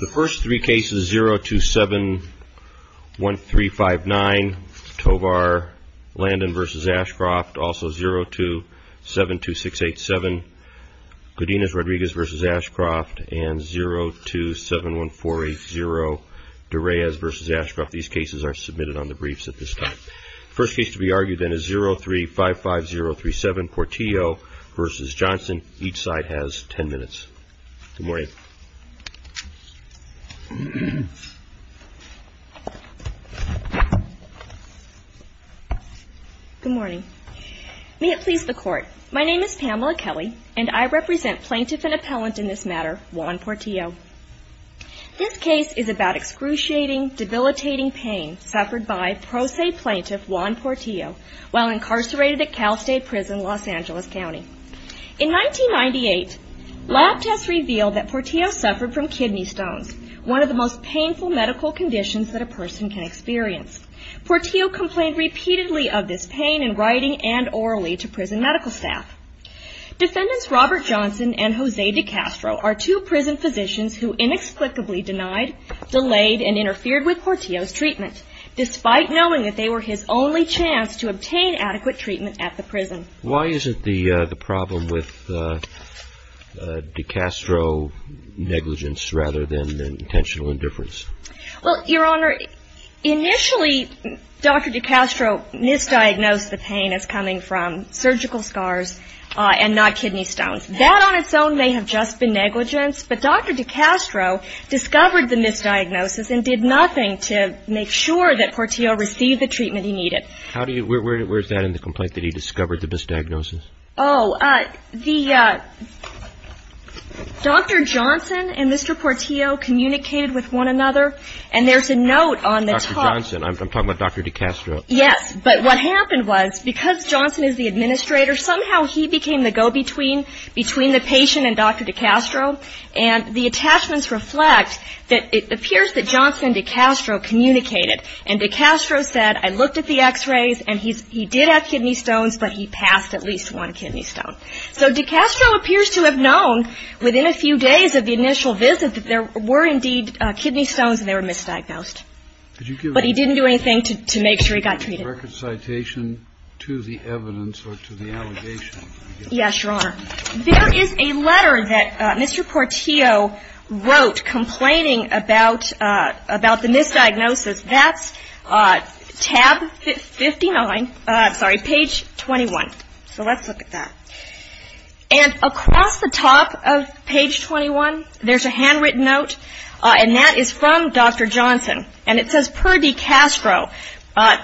The first three cases, 0271359, Tovar, Landon v. Ashcroft, also 0272687, Godinez-Rodriguez v. Ashcroft, and 0271480, De Reyes v. Ashcroft. These cases are submitted on the briefs at this time. The first case to be argued then is 0355037, Portillo v. Johnson. Each side has ten minutes. Good morning. Good morning. May it please the Court, my name is Pamela Kelly, and I represent Plaintiff and Appellant in this matter, Juan Portillo. This case is about excruciating, debilitating pain suffered by pro se Plaintiff, Juan Portillo, while incarcerated at Cal State Prison, Los Angeles. In 1998, lab tests revealed that Portillo suffered from kidney stones, one of the most painful medical conditions that a person can experience. Portillo complained repeatedly of this pain in writing and orally to prison medical staff. Defendants Robert Johnson and Jose DeCastro are two prison physicians who inexplicably denied, delayed, and interfered with Portillo's treatment, despite knowing that they were his only chance to obtain adequate treatment at the prison. Why is it the problem with DeCastro negligence rather than intentional indifference? Well, Your Honor, initially, Dr. DeCastro misdiagnosed the pain as coming from surgical scars and not kidney stones. That on its own may have just been negligence, but Dr. DeCastro discovered the misdiagnosis and did nothing to make sure that Portillo received the treatment he needed. How do you, where is that in the complaint that he discovered the misdiagnosis? Oh, the, Dr. Johnson and Mr. Portillo communicated with one another, and there's a note on the top. Dr. Johnson, I'm talking about Dr. DeCastro. Yes, but what happened was, because Johnson is the administrator, somehow he became the go-between between the patient and Dr. DeCastro, and the attachments reflect that it appears that Johnson and DeCastro communicated. And DeCastro said, I looked at the x-rays, and he did have kidney stones, but he passed at least one kidney stone. So DeCastro appears to have known within a few days of the initial visit that there were indeed kidney stones and they were misdiagnosed. Did you give him a record citation to the evidence or to the allegation? But he didn't do anything to make sure he got treated. Yes, Your Honor. There is a letter that Mr. Portillo wrote complaining about the misdiagnosis. That's tab 59, sorry, page 21. So let's look at that. And across the top of page 21, there's a handwritten note, and that is from Dr. Johnson. And it says, per DeCastro,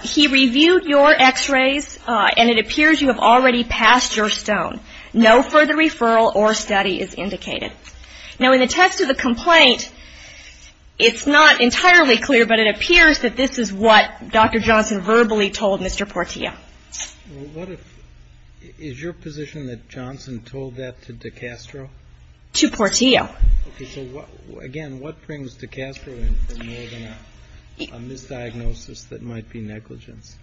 he reviewed your x-rays, and it appears you have already passed your stone. No further referral or study is indicated. Now, in the text of the complaint, it's not entirely clear, but it appears that this is what Dr. Johnson verbally told Mr. Portillo. Well, what if – is your position that Johnson told that to DeCastro? To Portillo. Okay. So, again, what brings DeCastro in for more than a misdiagnosis that might be negligence?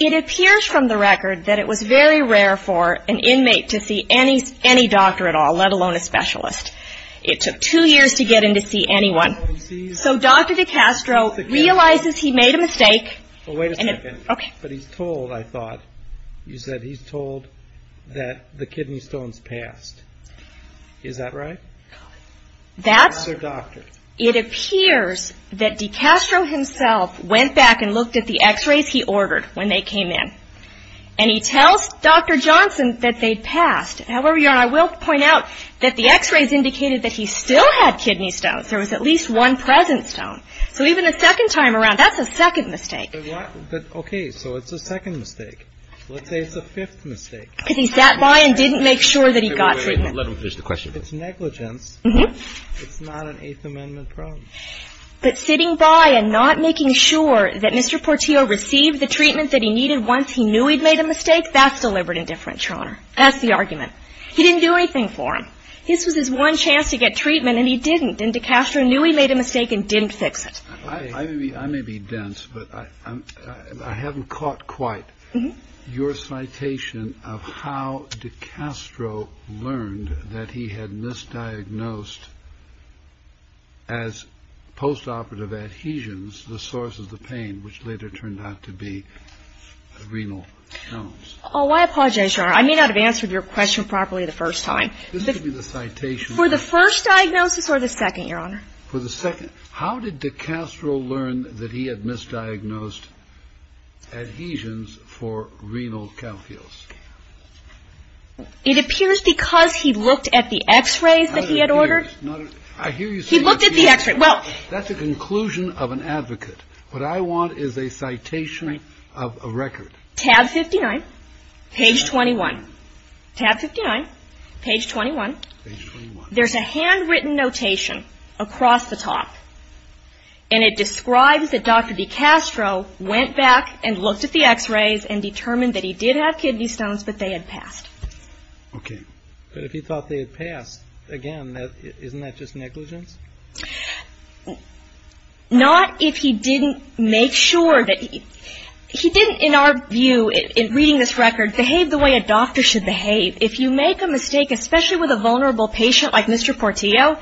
It appears from the record that it was very rare for an inmate to see any doctor at all, let alone a specialist. It took two years to get in to see anyone. So Dr. DeCastro realizes he made a mistake. Well, wait a second. Okay. But he's told, I thought. You said he's told that the kidney stones passed. Is that right? That's – That's their doctor. It appears that DeCastro himself went back and looked at the x-rays he ordered when they came in. And he tells Dr. Johnson that they passed. However, Your Honor, I will point out that the x-rays indicated that he still had kidney stones. There was at least one present stone. So even the second time around, that's a second mistake. But why – but, okay, so it's a second mistake. Let's say it's a fifth mistake. Because he sat by and didn't make sure that he got to him. Wait a minute. Let him finish the question. It's negligence. Mm-hmm. It's not an Eighth Amendment problem. But sitting by and not making sure that Mr. Portillo received the treatment that he needed once he knew he'd made a mistake, that's deliberate indifference, Your Honor. That's the argument. He didn't do anything for him. This was his one chance to get treatment, and he didn't. And DeCastro knew he made a mistake and didn't fix it. I may be dense, but I haven't caught quite your citation of how DeCastro learned that he had misdiagnosed, as post-operative adhesions, the source of the pain, which later turned out to be renal stones. Oh, I apologize, Your Honor. I may not have answered your question properly the first time. This could be the citation. For the first diagnosis or the second, Your Honor? For the second. How did DeCastro learn that he had misdiagnosed adhesions for renal calculus? It appears because he looked at the x-rays that he had ordered. I hear you say that. He looked at the x-ray. Well – That's a conclusion of an advocate. What I want is a citation of a record. Tab 59, page 21. Tab 59, page 21. Page 21. There's a handwritten notation across the top, and it describes that Dr. DeCastro went back and looked at the x-rays and determined that he did have kidney stones, but they had passed. Okay. But if he thought they had passed, again, isn't that just negligence? Not if he didn't make sure that – he didn't, in our view, in reading this record, behave the way a doctor should behave. If you make a mistake, especially with a vulnerable patient like Mr. Portillo,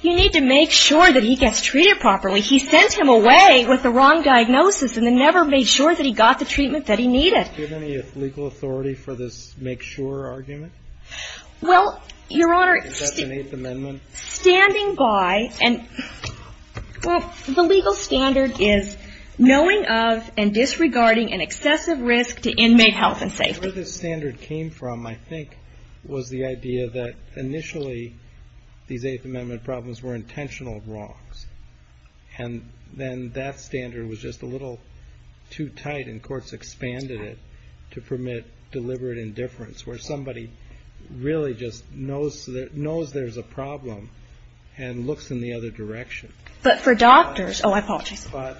you need to make sure that he gets treated properly. He sent him away with the wrong diagnosis, and then never made sure that he got the treatment that he needed. Do you have any legal authority for this make-sure argument? Well, Your Honor – Is that an Eighth Amendment? Standing by – well, the legal standard is knowing of and disregarding an excessive risk to inmate health and safety. Where this standard came from, I think, was the idea that initially these Eighth Amendment problems were intentional wrongs. And then that standard was just a little too tight, and courts expanded it to permit deliberate indifference, where somebody really just knows there's a problem and looks in the other direction. But for doctors – oh, I apologize. But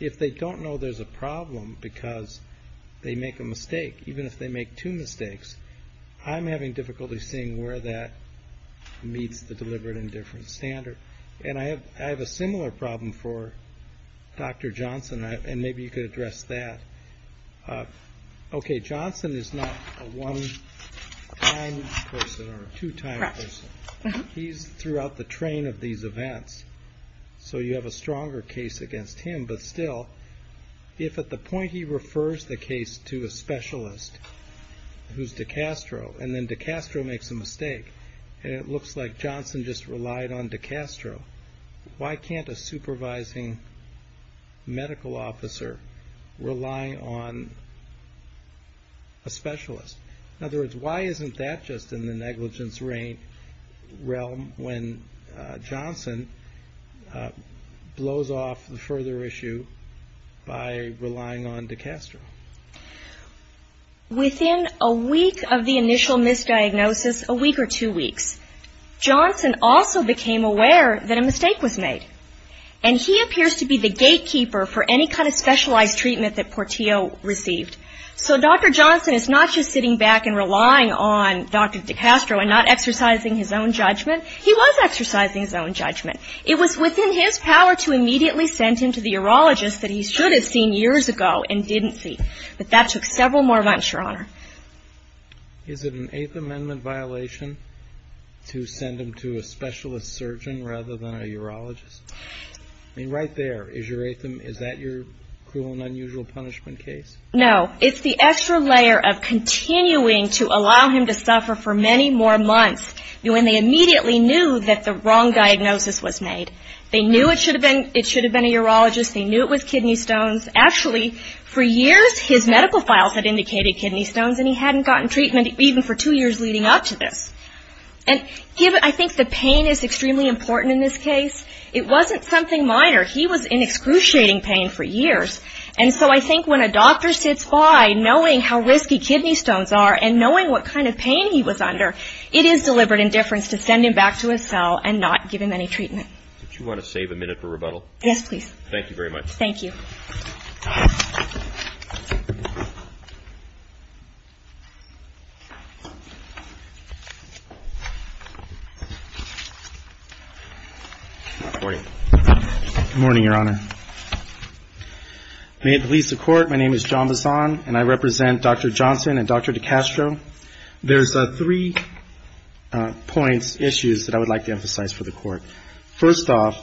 if they don't know there's a problem because they make a mistake, even if they And I have a similar problem for Dr. Johnson, and maybe you could address that. Okay, Johnson is not a one-time person or a two-time person. He's throughout the train of these events, so you have a stronger case against him. But still, if at the point he refers the case to a specialist, who's DiCastro, and then DiCastro makes a mistake, and it looks like he just relied on DiCastro, why can't a supervising medical officer rely on a specialist? In other words, why isn't that just in the negligence realm when Johnson blows off the further issue by relying on DiCastro? Within a week of the initial misdiagnosis, a week or two weeks, Johnson also became aware that a mistake was made. And he appears to be the gatekeeper for any kind of specialized treatment that Portillo received. So Dr. Johnson is not just sitting back and relying on Dr. DiCastro and not exercising his own judgment. He was exercising his own judgment. It was within his power to immediately send him to the urologist that he should have seen years ago and didn't see. But that took several more months, Your Honor. Is it an Eighth Amendment violation to send him to a specialist surgeon rather than a urologist? I mean, right there, is that your cruel and unusual punishment case? No. It's the extra layer of continuing to allow him to suffer for many more months when they immediately knew that the wrong diagnosis was made. They knew it should have been a kidney stone. Actually, for years, his medical files had indicated kidney stones, and he hadn't gotten treatment even for two years leading up to this. And I think the pain is extremely important in this case. It wasn't something minor. He was in excruciating pain for years. And so I think when a doctor sits by, knowing how risky kidney stones are and knowing what kind of pain he was under, it is deliberate indifference to send him back to his cell and not give him any treatment. Do you want to save a minute for rebuttal? Yes, please. Thank you very much. Thank you. Good morning, Your Honor. May it please the Court, my name is John Bassan, and I represent Dr. Johnson and Dr. DiCastro. There's three points, issues, that I would like to emphasize First off,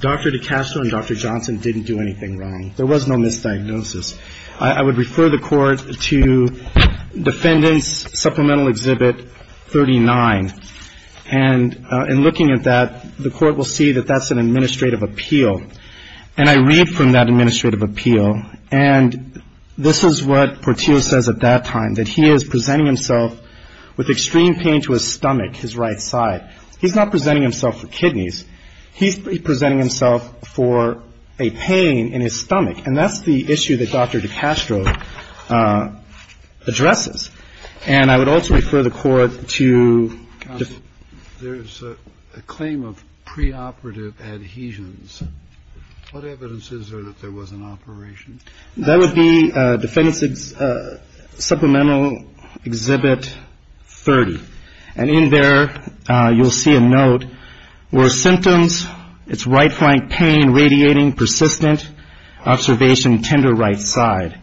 Dr. DiCastro and Dr. Johnson didn't do anything wrong. There was no misdiagnosis. I would refer the Court to Defendant's Supplemental Exhibit 39. And in looking at that, the Court will see that that's an administrative appeal. And I read from that administrative appeal, and this is what Portillo says at that time, that he is presenting himself with extreme pain to his stomach, his right side. He's not presenting himself for kidneys. He's presenting himself for a pain in his stomach. And that's the issue that Dr. DiCastro addresses. And I would also refer the Court to the claim of preoperative adhesions. What evidence is there that there was an operation? That would be Defendant's Supplemental Exhibit 30. And in there, you'll see a note where symptoms, it's right flank pain, radiating, persistent, observation, tender right side.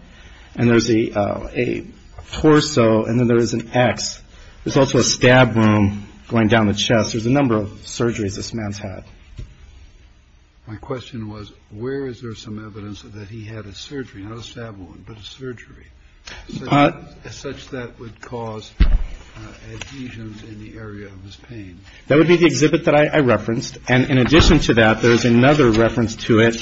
And there's a torso, and then there's an X. There's also a stab wound going down the chest. There's a number of surgeries this man's had. My question was, where is there some evidence that he had a surgery, not a stab wound, but a surgery, such that would cause adhesions in the area of his pain? That would be the exhibit that I referenced. And in addition to that, there's another reference to it,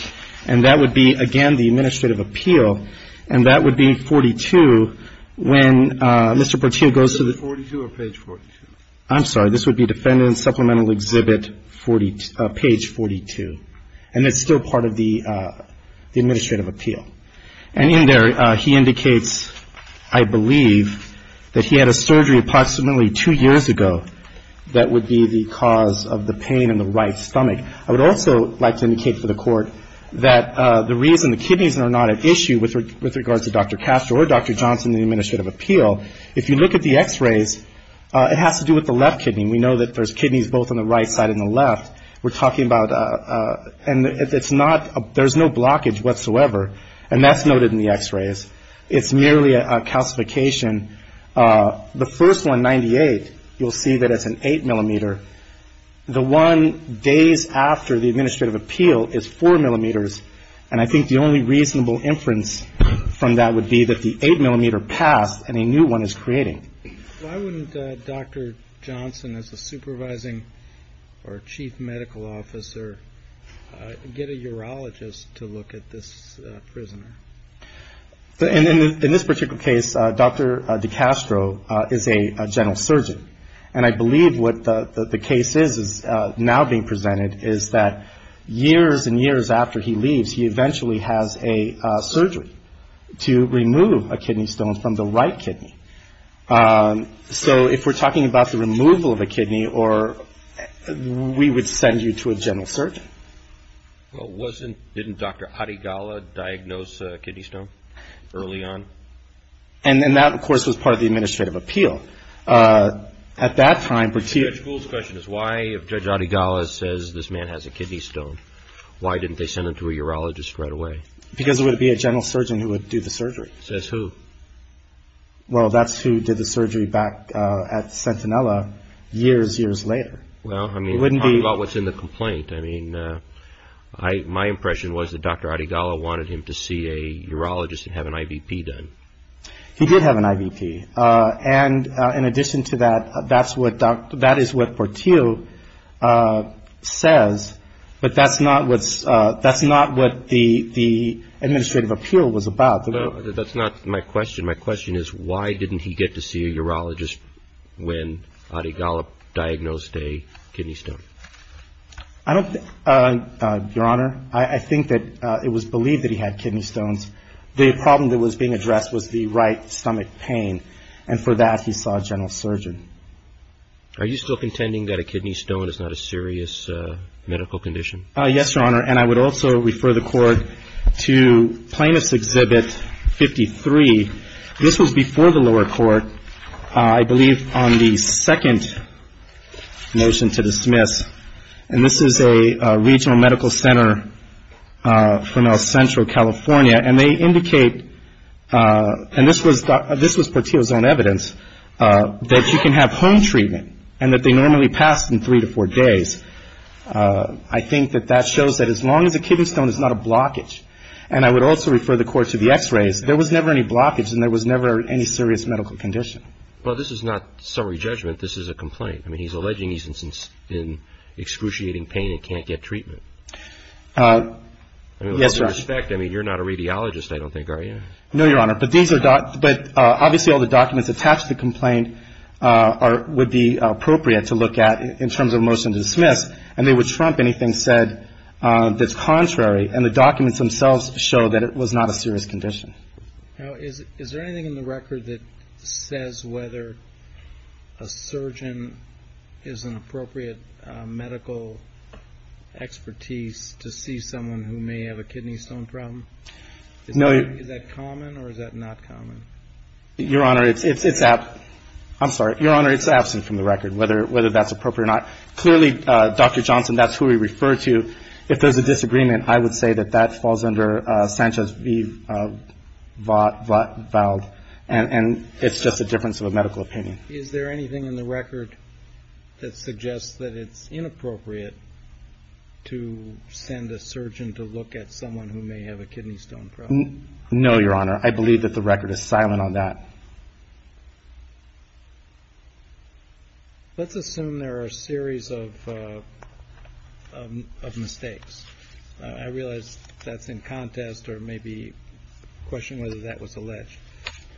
and that would be, again, the administrative appeal. And that would be 42 when Mr. Portillo goes to the 42 or page 42? I'm sorry, this would be Defendant's Supplemental Exhibit 42, page 42. And it's still part of the administrative appeal. And in there, he indicates, I believe, that he had a surgery approximately two years ago that would be the cause of the pain in the right stomach. I would also like to indicate for the Court that the reason the kidneys are not at issue with regards to Dr. Castro or Dr. Johnson in the administrative appeal, if you look at the x-rays, it has to do with the left kidney. We know that there's kidneys both on the right side and the left. We're talking about, and it's not, there's no blockage whatsoever. And that's noted in the x-rays. It's merely a calcification. The first one, 98, you'll see that it's an 8 millimeter. The one days after the administrative appeal is 4 millimeters. And I think the only reasonable inference from that would be that it's the 8 millimeter past and a new one is creating. Why wouldn't Dr. Johnson, as a supervising or chief medical officer, get a urologist to look at this prisoner? In this particular case, Dr. DeCastro is a general surgeon. And I believe what the case is now being presented is that years and years after he leaves, he eventually has a surgery to remove a kidney stone from the right kidney. So if we're talking about the removal of a kidney or, we would send you to a general surgeon. Well, wasn't, didn't Dr. Adegala diagnose a kidney stone early on? And then that, of course, was part of the administrative appeal. At that time, particularly The Judge Gould's question is why, if Judge Adegala says this man has a kidney stone, why didn't they send him to a urologist right away? Because it would be a general surgeon who would do the surgery. Says who? Well, that's who did the surgery back at Centinella years, years later. Well, I mean, talking about what's in the complaint, I mean, my impression was that Dr. Adegala wanted him to see a urologist and have an IVP done. He did have an IVP. And in addition to that, that's what, that is what Portillo says, but that's not what's, that's not what the, the administrative appeal was about. That's not my question. My question is why didn't he get to see a urologist when Adegala diagnosed a kidney stone? I don't, Your Honor, I think that it was believed that he had kidney stones. The problem that was being addressed was the right stomach pain. And for that, he saw a general surgeon. Are you still contending that a kidney stone is not a serious medical condition? Yes, Your Honor. And I would also refer the Court to Plaintiff's Exhibit 53. This was before the lower court, I believe on the second motion to dismiss. And this is a regional medical center from El Centro, California. And they indicate, and this was, this was before the lower court, that kidney stones can have home treatment and that they normally pass in three to four days. I think that that shows that as long as a kidney stone is not a blockage, and I would also refer the Court to the x-rays, there was never any blockage and there was never any serious medical condition. Well, this is not summary judgment. This is a complaint. I mean, he's alleging he's in excruciating pain and can't get treatment. Yes, Your Honor. I mean, with all due respect, I mean, you're not a radiologist, I don't think, are you? No, Your Honor. But these are, but obviously all the documents attached to the complaint would be appropriate to look at in terms of a motion to dismiss. And they would trump anything said that's contrary. And the documents themselves show that it was not a serious condition. Now, is there anything in the record that says whether a surgeon is an appropriate medical expertise to see someone who may have a kidney stone problem? No. Is that common or is that not common? Your Honor, it's absent from the record whether that's appropriate or not. Clearly, Dr. Johnson, that's who we refer to. If there's a disagreement, I would say that that falls under Sanchez v. Vald, and it's just a difference of a medical opinion. Is there anything in the record that suggests that it's inappropriate to send a surgeon to look at someone who may have a kidney stone problem? No, Your Honor. I believe that the record is silent on that. Let's assume there are a series of mistakes. I realize that's in contest or maybe a question whether that was alleged.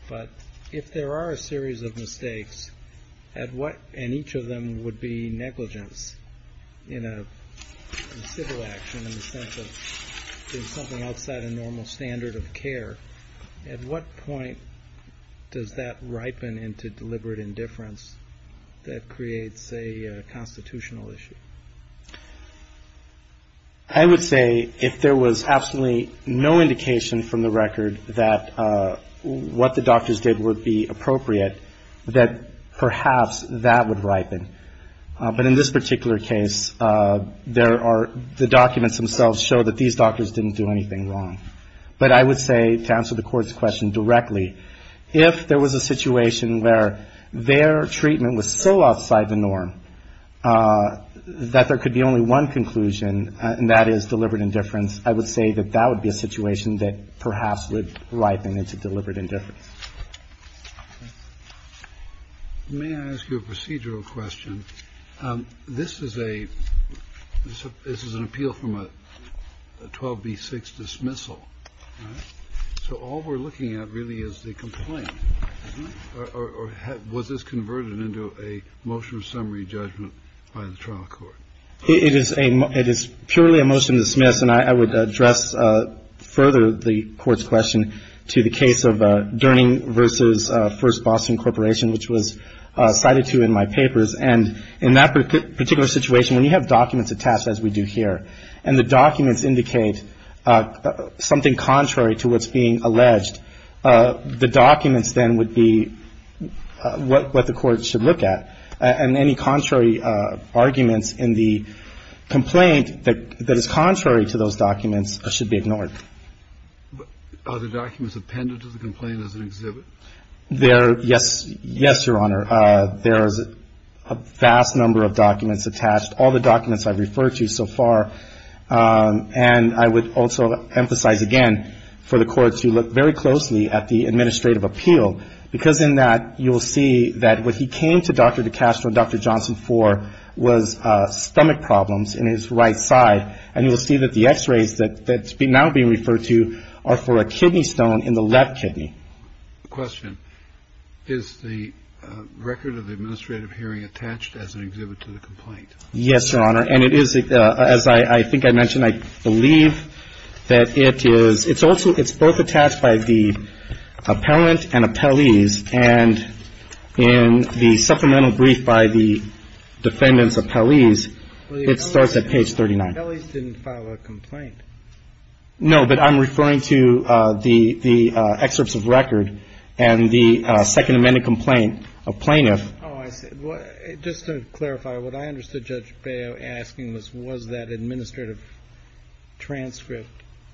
But if there are a series of mistakes, and each of them would be negligence in a civil action in the sense of doing something outside a normal standard of care, at what point does that ripen into deliberate indifference that creates a constitutional issue? I would say if there was absolutely no indication from the record that what the doctors did would be appropriate, that perhaps that would ripen. But in this particular case, the documents themselves show that these doctors didn't do anything wrong. But I would say, to answer the Court's question directly, if there was a situation where their treatment was so outside the norm that there could be only one conclusion, and that is deliberate indifference, I would say that that would be a situation that perhaps would ripen into deliberate indifference. May I ask you a procedural question? This is an appeal from a 12b-6 dismissal, right? So all we're looking at really is the complaint, or was this converted into a motion of summary judgment by the trial court? It is purely a motion to dismiss, and I would address further the Court's question to the case of Durning v. First Boston Corporation, which was cited to you in my papers. And in that particular situation, when you have documents attached, as we do here, and the documents indicate something contrary to what's being alleged, the documents then would be what the complaint that is contrary to those documents should be ignored. Are the documents appended to the complaint as an exhibit? Yes, Your Honor. There is a vast number of documents attached, all the documents I've referred to so far. And I would also emphasize again for the Court to look very closely at the administrative appeal, because in that you will see that when he came to Dr. Durning's office, he had stomach problems in his right side, and you will see that the X-rays that's now being referred to are for a kidney stone in the left kidney. Question. Is the record of the administrative hearing attached as an exhibit to the complaint? Yes, Your Honor. And it is, as I think I mentioned, I believe that it is. It's also, it's both attached by the appellant and appellees. And in the supplemental brief by the defendant's appellees, it starts at page 39. Well, the appellees didn't file a complaint. No, but I'm referring to the excerpts of record and the Second Amendment complaint of plaintiff. Oh, I see. Just to clarify, what I understood Judge Bail asking was, was that administrative transcript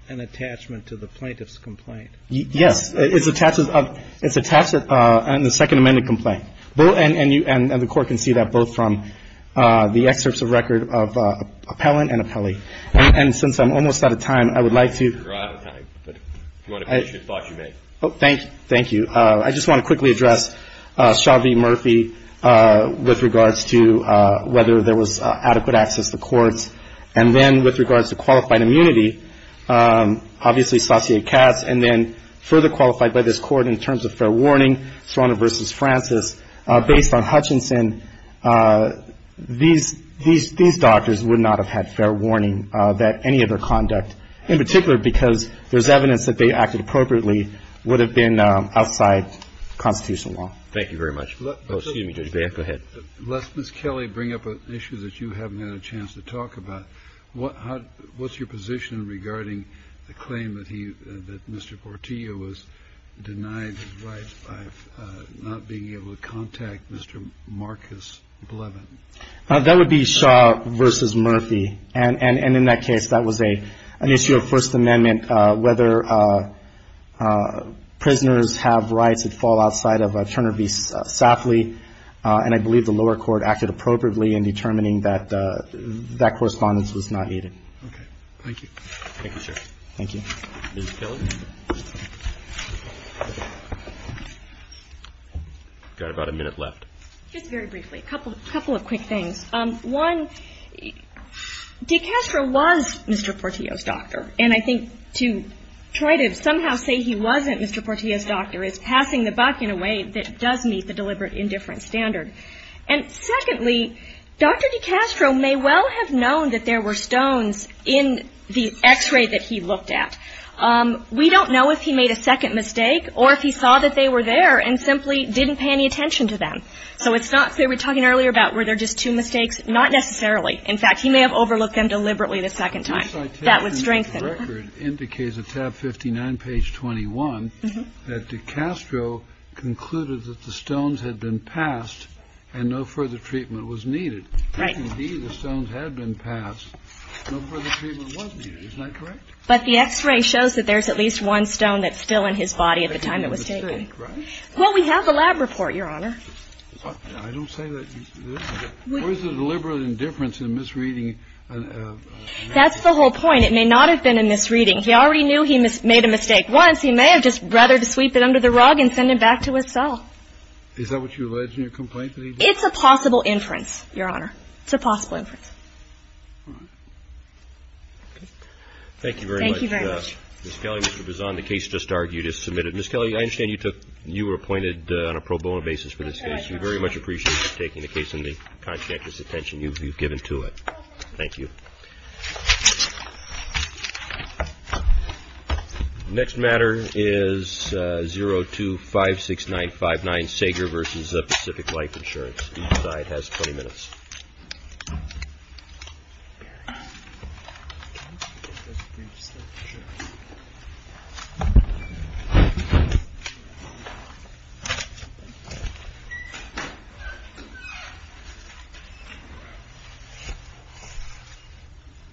an attachment to the plaintiff's complaint? Yes. It's attached in the Second Amendment complaint. And the Court can see that both from the excerpts of record of appellant and appellee. And since I'm almost out of time, I would like to You're out of time, but if you want to finish your thoughts, you may. Oh, thank you. I just want to quickly address Shaw v. Murphy with regards to whether there was adequate access to courts. And then with regards to qualified immunity, obviously, Stassier-Katz, and then further qualified by this Court in terms of fair warning, Sorano v. Francis, based on Hutchinson, these doctors would not have had fair warning that any of their conduct, in particular because there's evidence that they acted appropriately, would have been outside Constitutional law. Thank you very much. Oh, excuse me, Judge Bail. Go ahead. Let Ms. Kelly bring up an issue that you haven't had a chance to talk about. What's your position regarding the claim that he, that Mr. Portillo was denied his rights by not being able to contact Mr. Marcus Blevin? That would be Shaw v. Murphy. And in that case, that was an issue of First Amendment whether prisoners have rights that fall outside of Turner v. Safley. And I believe the lower court acted appropriately in determining that that correspondence was not needed. Okay. Thank you. Thank you, sir. Thank you. Ms. Kelly? I've got about a minute left. Just very briefly, a couple of quick things. One, de Castro was Mr. Portillo's doctor. And I think to try to somehow say he wasn't Mr. Portillo's doctor is passing the buck in a way that does meet the deliberate indifference standard. And secondly, Dr. de Castro may well have known that there were stones in the X-ray that he looked at. We don't know if he made a second mistake or if he saw that they were there and simply didn't pay any attention to them. So it's not clear. We were talking earlier about were there just two mistakes. Not necessarily. In fact, he may have overlooked them deliberately the second time. Your citation record indicates at tab 59, page 21, that de Castro concluded that the stones had been passed and no further treatment was needed. Right. If, indeed, the stones had been passed, no further treatment was needed. Isn't that correct? But the X-ray shows that there's at least one stone that's still in his body at the time it was taken. Right. Well, we have a lab report, Your Honor. I don't say that. Where's the deliberate indifference in misreading? That's the whole point. It may not have been a misreading. He already knew he made a mistake once. He may have just rather to sweep it under the rug and send it back to his cell. Is that what you alleged in your complaint that he did? It's a possible inference, Your Honor. It's a possible inference. All right. Thank you very much. Thank you very much. Ms. Kelly, Mr. Bazan, the case just argued is submitted. Ms. Kelly, I understand you were appointed on a pro bono basis for this case. We very much appreciate you taking the case into the conscientious attention you've given to it. Thank you. The next matter is 0256959, Sager v. Pacific Life Insurance. Each side has 20 minutes. Thank you very much.